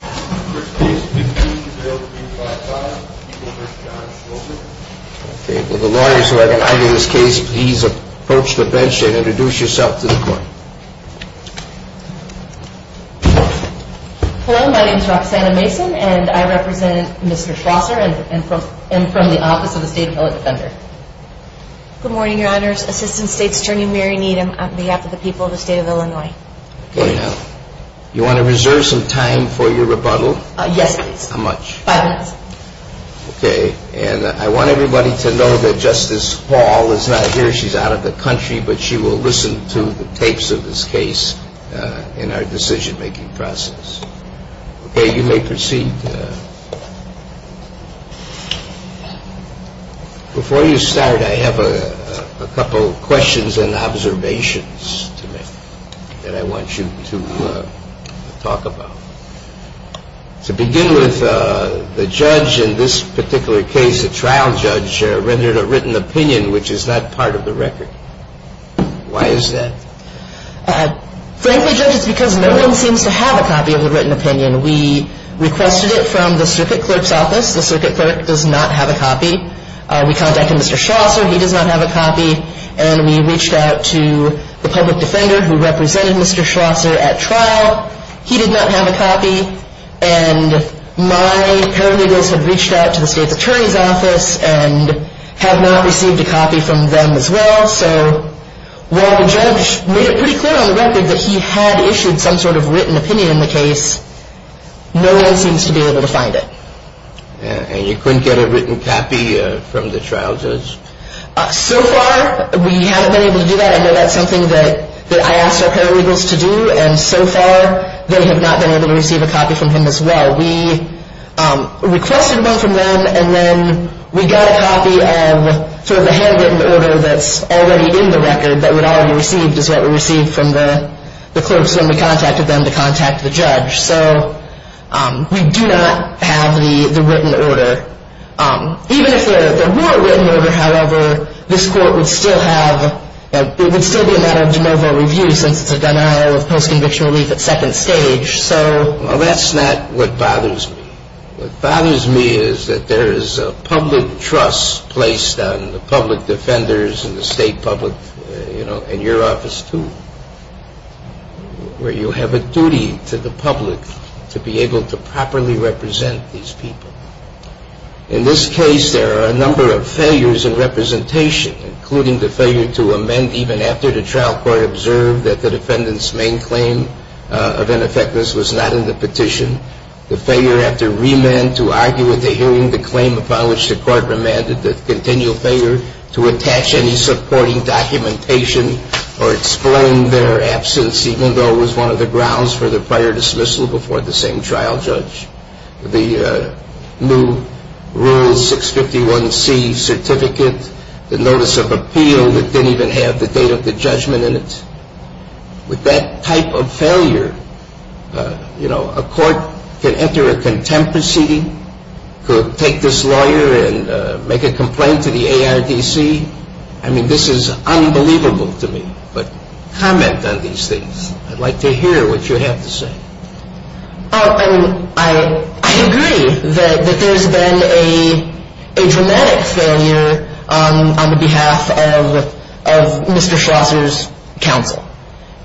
Good morning, your honors. Assistant State's Attorney Mary Needham on behalf of the people of the state of Illinois. You want to reserve some time for your rebuttal? Yes, please. How much? Five minutes. Okay, and I want everybody to know that Justice Hall is not here. She's out of the country, but she will listen to the tapes of this case in our decision-making process. Okay, you may proceed. And before you start, I have a couple questions and observations to make that I want you to talk about. To begin with, the judge in this particular case, the trial judge, rendered a written opinion which is not part of the record. Why is that? Frankly, Judge, it's because no one seems to have a copy of the written opinion. We requested it from the circuit clerk's office. The circuit clerk does not have a copy. We contacted Mr. Schlosser. He does not have a copy. And we reached out to the public defender who represented Mr. Schlosser at trial. He did not have a copy. And my paralegals had reached out to the state's attorney's office and had not received a copy from them as well. So while the judge made it pretty clear on the record that he had issued some sort of written opinion in the case, no one seems to be able to find it. And you couldn't get a written copy from the trial judge? So far, we haven't been able to do that. I know that's something that I asked our paralegals to do. And so far, they have not been able to receive a copy from him as well. We requested one from them, and then we got a copy of sort of a handwritten order that's already in the record that would already be received, is what we received from the clerks when we contacted them to contact the judge. So we do not have the written order. Even if there were a written order, however, this court would still have – it would still be a matter of de novo review since it's a denial of post-conviction relief at second stage. Well, that's not what bothers me. What bothers me is that there is a public trust placed on the public defenders and the state public, you know, and your office too, where you have a duty to the public to be able to properly represent these people. In this case, there are a number of failures in representation, including the failure to amend even after the trial court observed that the defendant's main claim of ineffectiveness was not in the petition, the failure after remand to argue at the hearing the claim upon which the court remanded, the continual failure to attach any supporting documentation or explain their absence, even though it was one of the grounds for the prior dismissal before the same trial judge, the new Rule 651C certificate, the notice of appeal that didn't even have the date of the judgment in it. With that type of failure, you know, a court can enter a contempt proceeding, could take this lawyer and make a complaint to the ARDC. I mean, this is unbelievable to me. But comment on these things. I'd like to hear what you have to say. I agree that there's been a dramatic failure on behalf of Mr. Schlosser's counsel.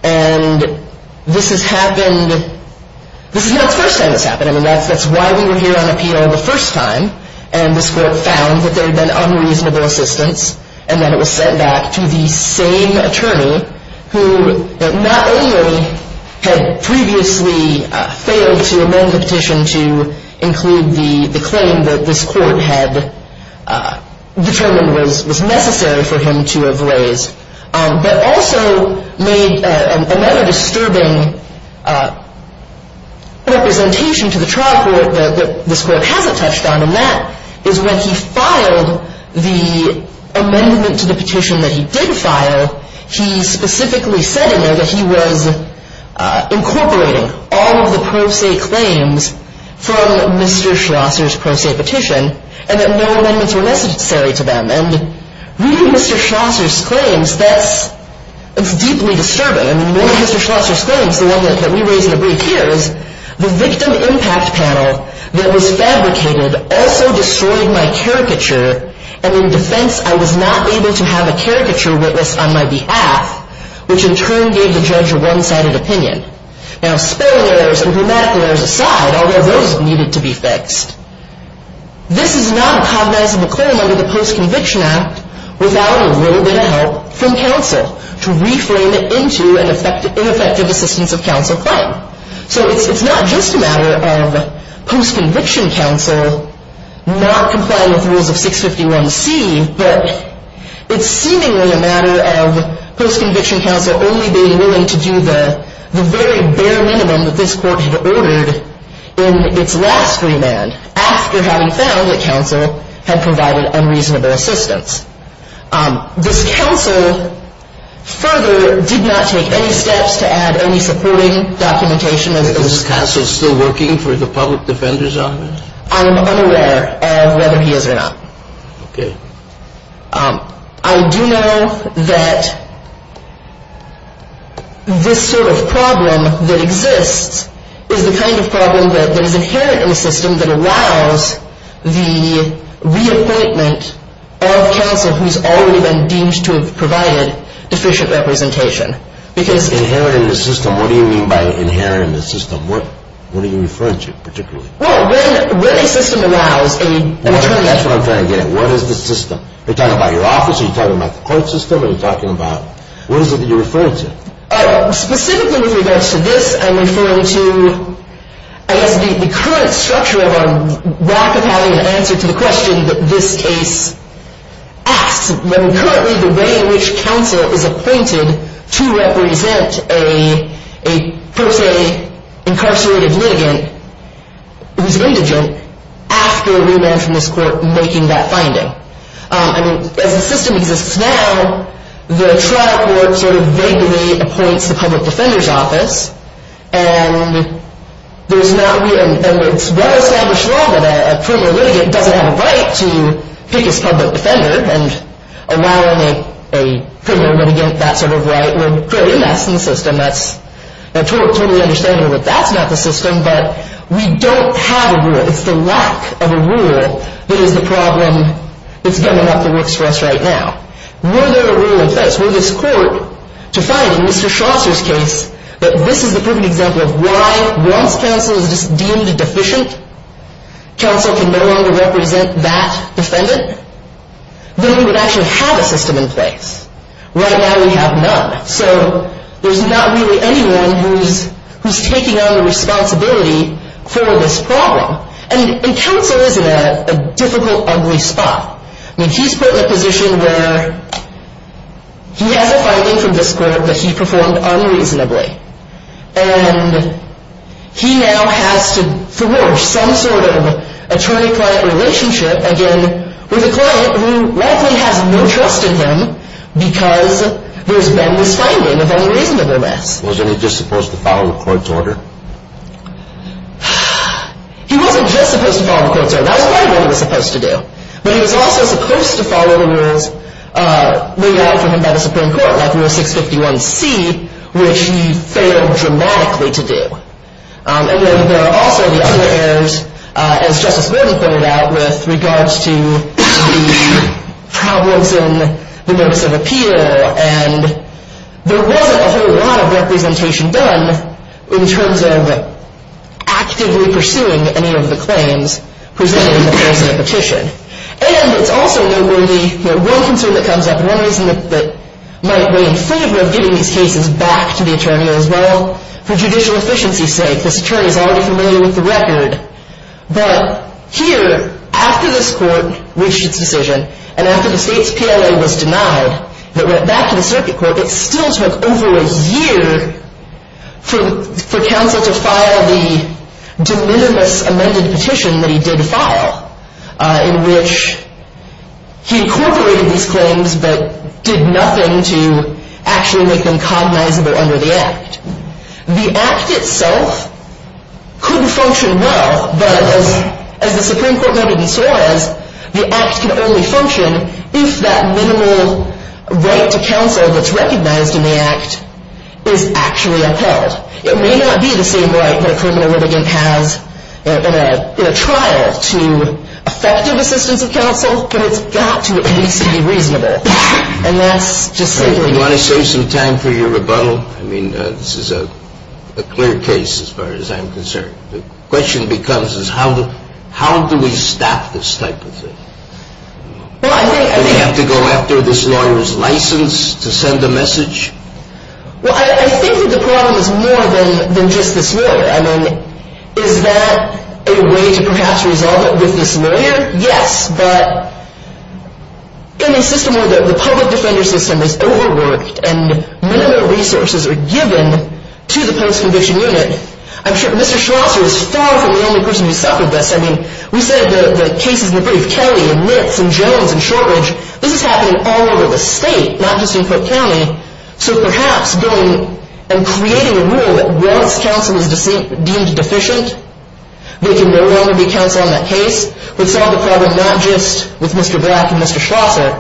And this has happened – this is not the first time this has happened. I mean, that's why we were here on appeal the first time. And this court found that there had been unreasonable assistance, and then it was sent back to the same attorney who not only had previously failed to amend the petition to include the claim that this court had determined was necessary for him to have raised, but also made another disturbing representation to the trial court that this court hasn't touched on, and that is when he filed the amendment to the petition that he did file, he specifically said in there that he was incorporating all of the pro se claims from Mr. Schlosser's pro se petition and that no amendments were necessary to them. And reading Mr. Schlosser's claims, that's – it's deeply disturbing. I mean, one of Mr. Schlosser's claims, the one that we raised in the brief here, is the victim impact panel that was fabricated also destroyed my caricature, and in defense I was not able to have a caricature witness on my behalf, which in turn gave the judge a one-sided opinion. Now, spelling errors and grammatical errors aside, although those needed to be fixed, this is not a cognizable claim under the Post-Conviction Act without a little bit of help from counsel to reframe it into an ineffective assistance of counsel claim. So it's not just a matter of post-conviction counsel not complying with rules of 651C, but it's seemingly a matter of post-conviction counsel only being willing to do the very bare minimum that this court had ordered in its last remand after having found that counsel had provided unreasonable assistance. This counsel further did not take any steps to add any supporting documentation. Is this counsel still working for the Public Defender's Office? I am unaware of whether he is or not. Okay. I do know that this sort of problem that exists is the kind of problem that is inherent in the system that allows the reappointment of counsel who has already been deemed to have provided deficient representation. Inherent in the system? What do you mean by inherent in the system? What are you referring to particularly? Well, when a system allows a attorney... That's what I'm trying to get at. What is the system? Are you talking about your office? Are you talking about the court system? Are you talking about... What is it that you're referring to? Specifically with regards to this, I'm referring to, I guess, the current structure of our lack of having an answer to the question that this case asks. I mean, currently the way in which counsel is appointed to represent a per se incarcerated litigant who's indigent after we ran from this court making that finding. As the system exists now, the trial court sort of vaguely appoints the public defender's office and it's well-established law that a premier litigant doesn't have a right to pick his public defender and allowing a premier litigant that sort of right would create a mess in the system. I totally understand that that's not the system, but we don't have a rule. It's the lack of a rule that is the problem that's giving up the works for us right now. Were there a rule in place? Were this court to find in Mr. Shoster's case that this is the perfect example of why, once counsel is deemed deficient, counsel can no longer represent that defendant, then we would actually have a system in place. Right now we have none. So there's not really anyone who's taking on the responsibility for this problem. And counsel is in a difficult, ugly spot. I mean, he's put in a position where he has a finding from this court that he performed unreasonably. And he now has to forge some sort of attorney-client relationship again with a client who likely has no trust in him because there's been this finding of unreasonableness. Wasn't he just supposed to follow the court's order? He wasn't just supposed to follow the court's order. That was part of what he was supposed to do. But he was also supposed to follow the rules laid out for him by the Supreme Court, like Rule 651C, which he failed dramatically to do. And then there are also the other errors, as Justice Gordon pointed out, with regards to the problems in the notice of appeal. And there wasn't a whole lot of representation done in terms of actively pursuing any of the claims presented in the course of the petition. And it's also, though, going to be one concern that comes up and one reason that might weigh in favor of getting these cases back to the attorney as well, for judicial efficiency's sake. This attorney is already familiar with the record. But here, after this court reached its decision, and after the state's PLA was denied, it went back to the circuit court. It still took over a year for counsel to file the de minimis amended petition that he did file, in which he incorporated these claims but did nothing to actually make them cognizable under the Act. The Act itself could function well, but as the Supreme Court noted and saw, the Act can only function if that minimal right to counsel that's recognized in the Act is actually upheld. It may not be the same right that a criminal litigant has in a trial to effective assistance of counsel, but it's got to at least be reasonable. And that's just simply the case. Do you want to save some time for your rebuttal? I mean, this is a clear case as far as I'm concerned. The question becomes is how do we stop this type of thing? Do we have to go after this lawyer's license to send a message? Well, I think that the problem is more than just this lawyer. I mean, is that a way to perhaps resolve it with this lawyer? Yes, but in a system where the public defender system is overworked and minimal resources are given to the post-conviction unit, I'm sure Mr. Schlosser is far from the only person who's thought of this. I mean, we said the cases in the brief, Kelly and Nitz and Jones and Shortridge, this is happening all over the state, not just in Cook County. So perhaps going and creating a rule that once counsel is deemed deficient, there can no longer be counsel in that case, would solve the problem not just with Mr. Black and Mr. Schlosser,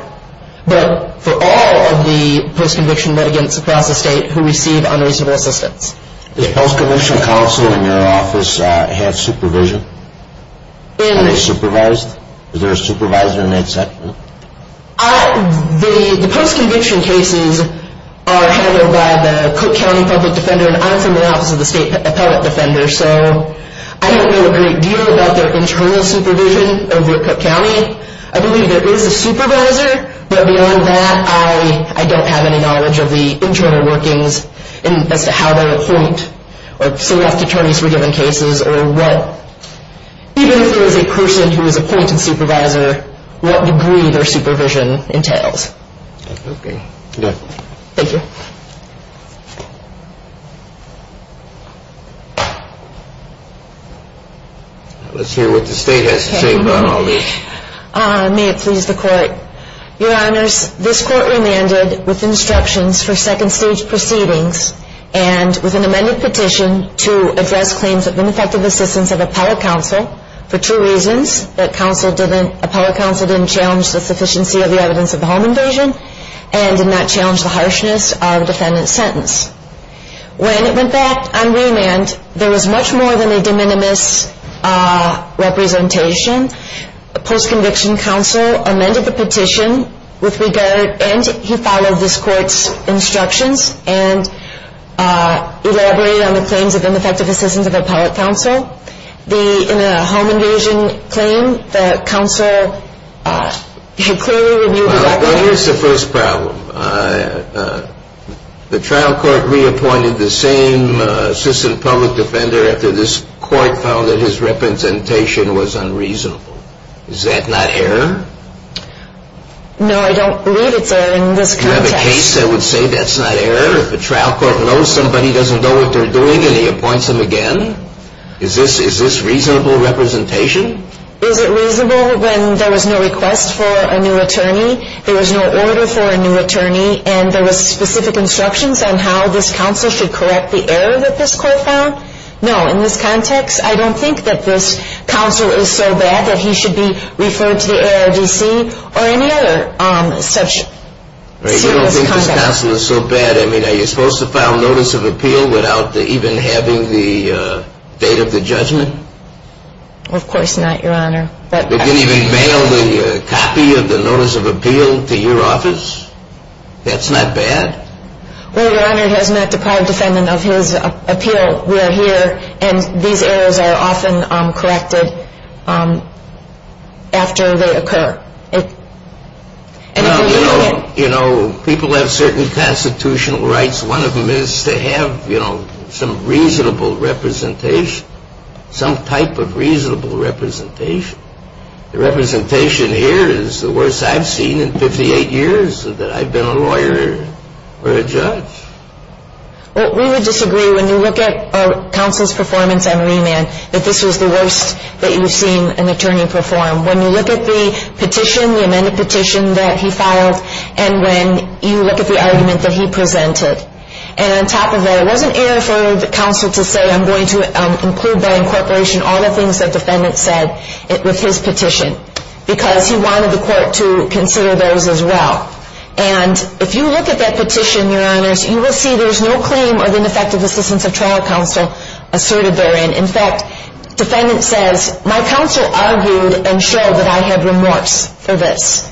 but for all of the post-conviction litigants across the state who receive unreasonable assistance. Does post-conviction counsel in your office have supervision? Are they supervised? Is there a supervisor in that section? The post-conviction cases are handled by the Cook County Public Defender, and I'm from the Office of the State Appellate Defender, so I don't know a great deal about their internal supervision over Cook County. I believe there is a supervisor, but beyond that, I don't have any knowledge of the internal workings as to how they appoint or select attorneys for given cases or what. Even if there is a person who is appointed supervisor, what degree their supervision entails. Okay. Go ahead. Thank you. Let's hear what the state has to say about all this. May it please the Court. Your Honors, this Court remanded with instructions for second-stage proceedings and with an amended petition to address claims of ineffective assistance of appellate counsel for two reasons, that appellate counsel didn't challenge the sufficiency of the evidence of the home invasion and did not challenge the harshness of the defendant's sentence. When it went back on remand, there was much more than a de minimis representation. Post-conviction counsel amended the petition with regard, and he followed this Court's instructions and elaborated on the claims of ineffective assistance of appellate counsel. In a home invasion claim, the counsel clearly reviewed the evidence. Well, here's the first problem. The trial court reappointed the same assistant public defender after this Court found that his representation was unreasonable. Is that not error? No, I don't believe it's error in this context. Do you have a case that would say that's not error, if the trial court knows somebody doesn't know what they're doing and he appoints them again? Is this reasonable representation? Is it reasonable when there was no request for a new attorney, there was no order for a new attorney, and there was specific instructions on how this counsel should correct the error that this Court found? No, in this context, I don't think that this counsel is so bad that he should be referred to the ARDC or any other such serious conduct. You don't think this counsel is so bad? I mean, are you supposed to file notice of appeal without even having the date of the judgment? Of course not, Your Honor. They didn't even mail the copy of the notice of appeal to your office? That's not bad? Well, Your Honor, it has not deprived defendant of his appeal. And these errors are often corrected after they occur. You know, people have certain constitutional rights. One of them is to have some reasonable representation, some type of reasonable representation. The representation here is the worst I've seen in 58 years that I've been a lawyer or a judge. Well, we would disagree. When you look at counsel's performance on remand, that this was the worst that you've seen an attorney perform. When you look at the petition, the amended petition that he filed, and when you look at the argument that he presented, and on top of that, it wasn't error for the counsel to say, I'm going to include by incorporation all the things that defendant said with his petition, because he wanted the Court to consider those as well. And if you look at that petition, Your Honors, you will see there's no claim of ineffective assistance of trial counsel asserted therein. In fact, defendant says, my counsel argued and showed that I had remorse for this.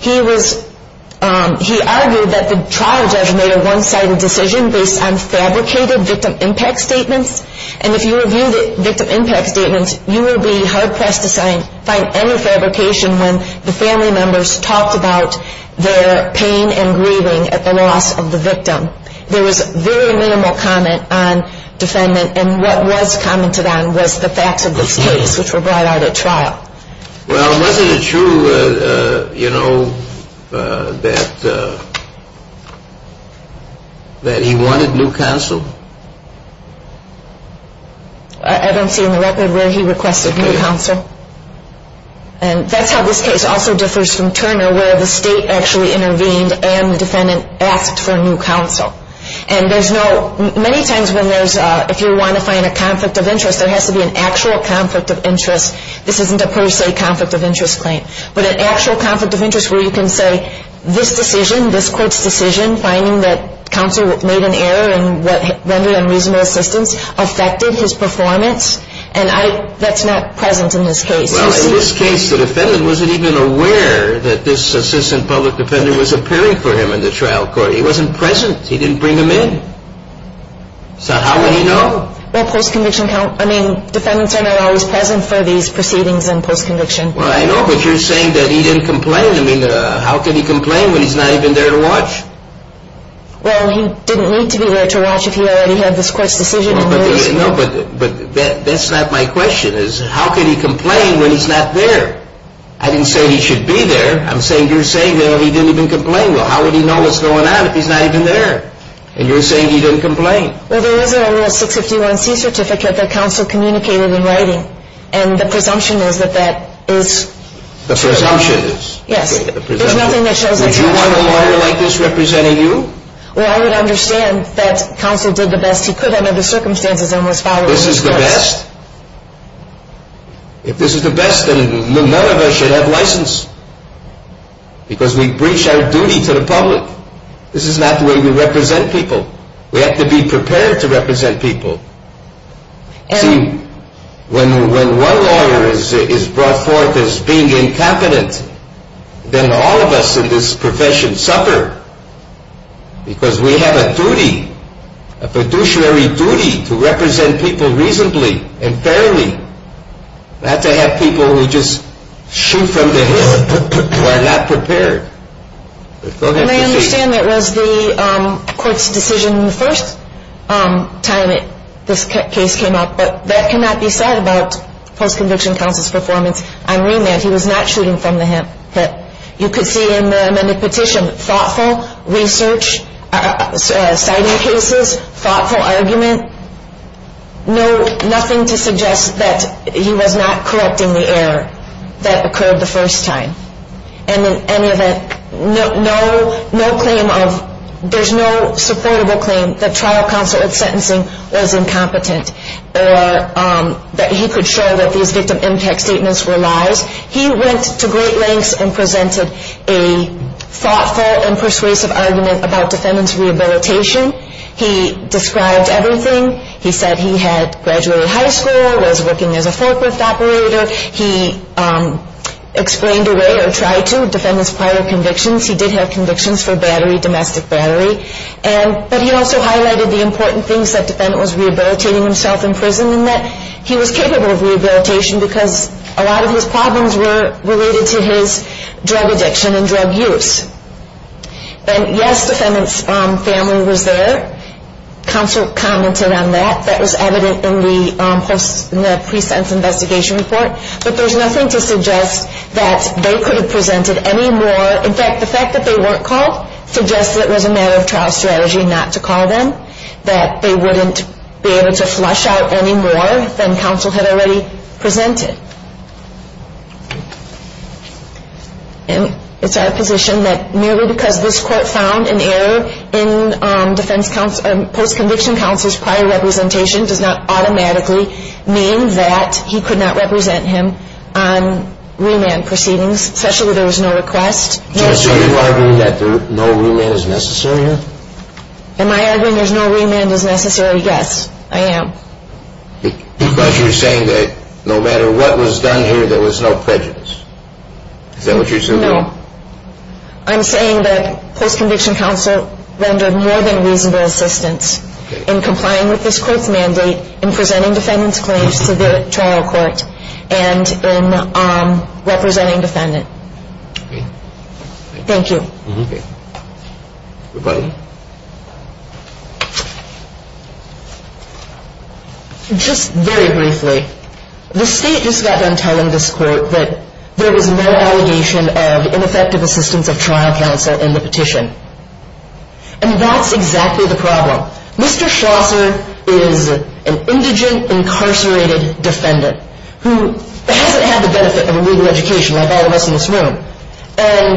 He argued that the trial judge made a one-sided decision based on fabricated victim impact statements, and if you review the victim impact statements, you will be hard pressed to find any fabrication when the family members talked about their pain and grieving at the loss of the victim. There was very minimal comment on defendant, and what was commented on was the facts of this case, which were brought out at trial. Well, wasn't it true, you know, that he wanted new counsel? I don't see on the record where he requested new counsel. And that's how this case also differs from Turner, where the state actually intervened and the defendant asked for new counsel. And there's no, many times when there's, if you want to find a conflict of interest, there has to be an actual conflict of interest. This isn't a per se conflict of interest claim. But an actual conflict of interest where you can say, this decision, this Court's decision, finding that counsel made an error in what rendered unreasonable assistance, affected his performance, and I, that's not present in this case. Well, in this case, the defendant wasn't even aware that this assistant public defendant was appearing for him in the trial court. He wasn't present. He didn't bring him in. So how would he know? Well, post-conviction, I mean, defendants are not always present for these proceedings in post-conviction. Well, I know, but you're saying that he didn't complain. I mean, how could he complain when he's not even there to watch? Well, he didn't need to be there to watch if he already had this Court's decision. No, but that's not my question, is how could he complain when he's not there? I didn't say he should be there. I'm saying you're saying that he didn't even complain. Well, how would he know what's going on if he's not even there? And you're saying he didn't complain. Well, there is a Rule 651C certificate that counsel communicated in writing, and the presumption is that that is true. The presumption is? Yes. There's nothing that shows that's true. Would you want a lawyer like this representing you? Well, I would understand that counsel did the best he could under the circumstances and was following the course. This is the best? If this is the best, then none of us should have license because we breach our duty to the public. This is not the way we represent people. We have to be prepared to represent people. See, when one lawyer is brought forth as being incompetent, then all of us in this profession suffer because we have a duty, a fiduciary duty to represent people reasonably and fairly, not to have people who just shoot from the hip who are not prepared. And I understand it was the court's decision the first time this case came up, but that cannot be said about post-conviction counsel's performance on remand. He was not shooting from the hip. You could see in the amended petition thoughtful research, citing cases, thoughtful argument, nothing to suggest that he was not correcting the error that occurred the first time. And in any event, no claim of, there's no supportable claim that trial counsel at sentencing was incompetent or that he could show that these victim impact statements were lies. He went to great lengths and presented a thoughtful and persuasive argument about defendant's rehabilitation. He described everything. He said he had graduated high school, was working as a forklift operator. He explained away or tried to defend his prior convictions. He did have convictions for battery, domestic battery. But he also highlighted the important things that defendant was rehabilitating himself in prison and that he was capable of rehabilitation because a lot of his problems were related to his drug addiction and drug use. And yes, defendant's family was there. Counsel commented on that. That was evident in the pre-sentence investigation report. But there's nothing to suggest that they could have presented any more. In fact, the fact that they weren't called suggests that it was a matter of trial strategy not to call them, that they wouldn't be able to flush out any more than counsel had already presented. And it's our position that merely because this court found an error in defense counsel, post-conviction counsel's prior representation, does not automatically mean that he could not represent him on remand proceedings, especially if there was no request. So you're arguing that no remand is necessary here? Am I arguing there's no remand is necessary? Yes, I am. Because you're saying that no matter what was done here, there was no prejudice. Is that what you're saying? No. I'm saying that post-conviction counsel rendered more than reasonable assistance in complying with this court's mandate in presenting defendant's claims to the trial court and in representing defendant. Thank you. Okay. Goodbye. Just very briefly, the State just got done telling this court that there was no allegation of ineffective assistance of trial counsel in the petition. And that's exactly the problem. Mr. Schlosser is an indigent, incarcerated defendant who hasn't had the benefit of a legal education like all of us in this room. And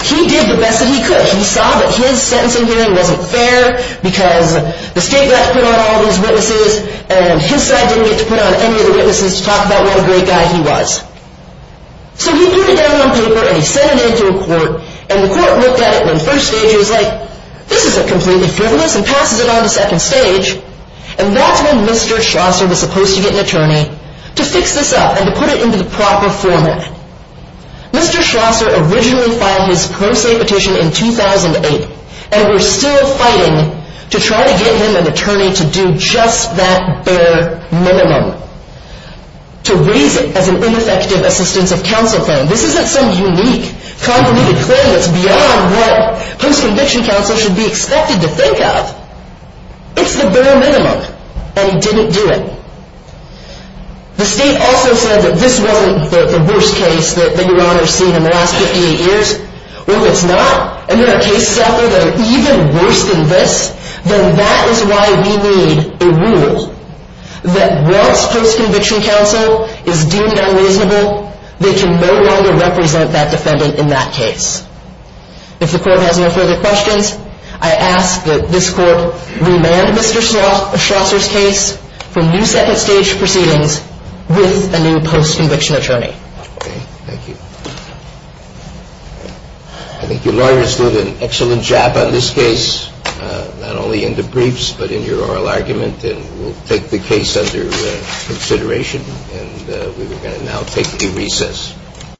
he did the best that he could. He saw that his sentencing hearing wasn't fair because the State got to put on all of his witnesses and his side didn't get to put on any of the witnesses to talk about what a great guy he was. So he put it down on paper and he sent it in to a court, and the court looked at it in the first stage and was like, this is a completely frivolous and passes it on to second stage. And that's when Mr. Schlosser was supposed to get an attorney to fix this up and to put it into the proper format. Mr. Schlosser originally filed his pro se petition in 2008, and we're still fighting to try to get him an attorney to do just that bare minimum. To raise it as an ineffective assistance of counsel claim. This isn't some unique, compromised claim that's beyond what post-conviction counsel should be expected to think of. It's the bare minimum. And he didn't do it. The State also said that this wasn't the worst case that Your Honor has seen in the last 58 years. Well, if it's not, and there are cases out there that are even worse than this, then that is why we need a rule that once post-conviction counsel is deemed unreasonable, they can no longer represent that defendant in that case. If the court has no further questions, I ask that this court remand Mr. Schlosser's case for new second stage proceedings with a new post-conviction attorney. Okay. Thank you. I think your lawyers did an excellent job on this case, not only in the briefs, but in your oral argument. And we'll take the case under consideration. And we are going to now take a recess.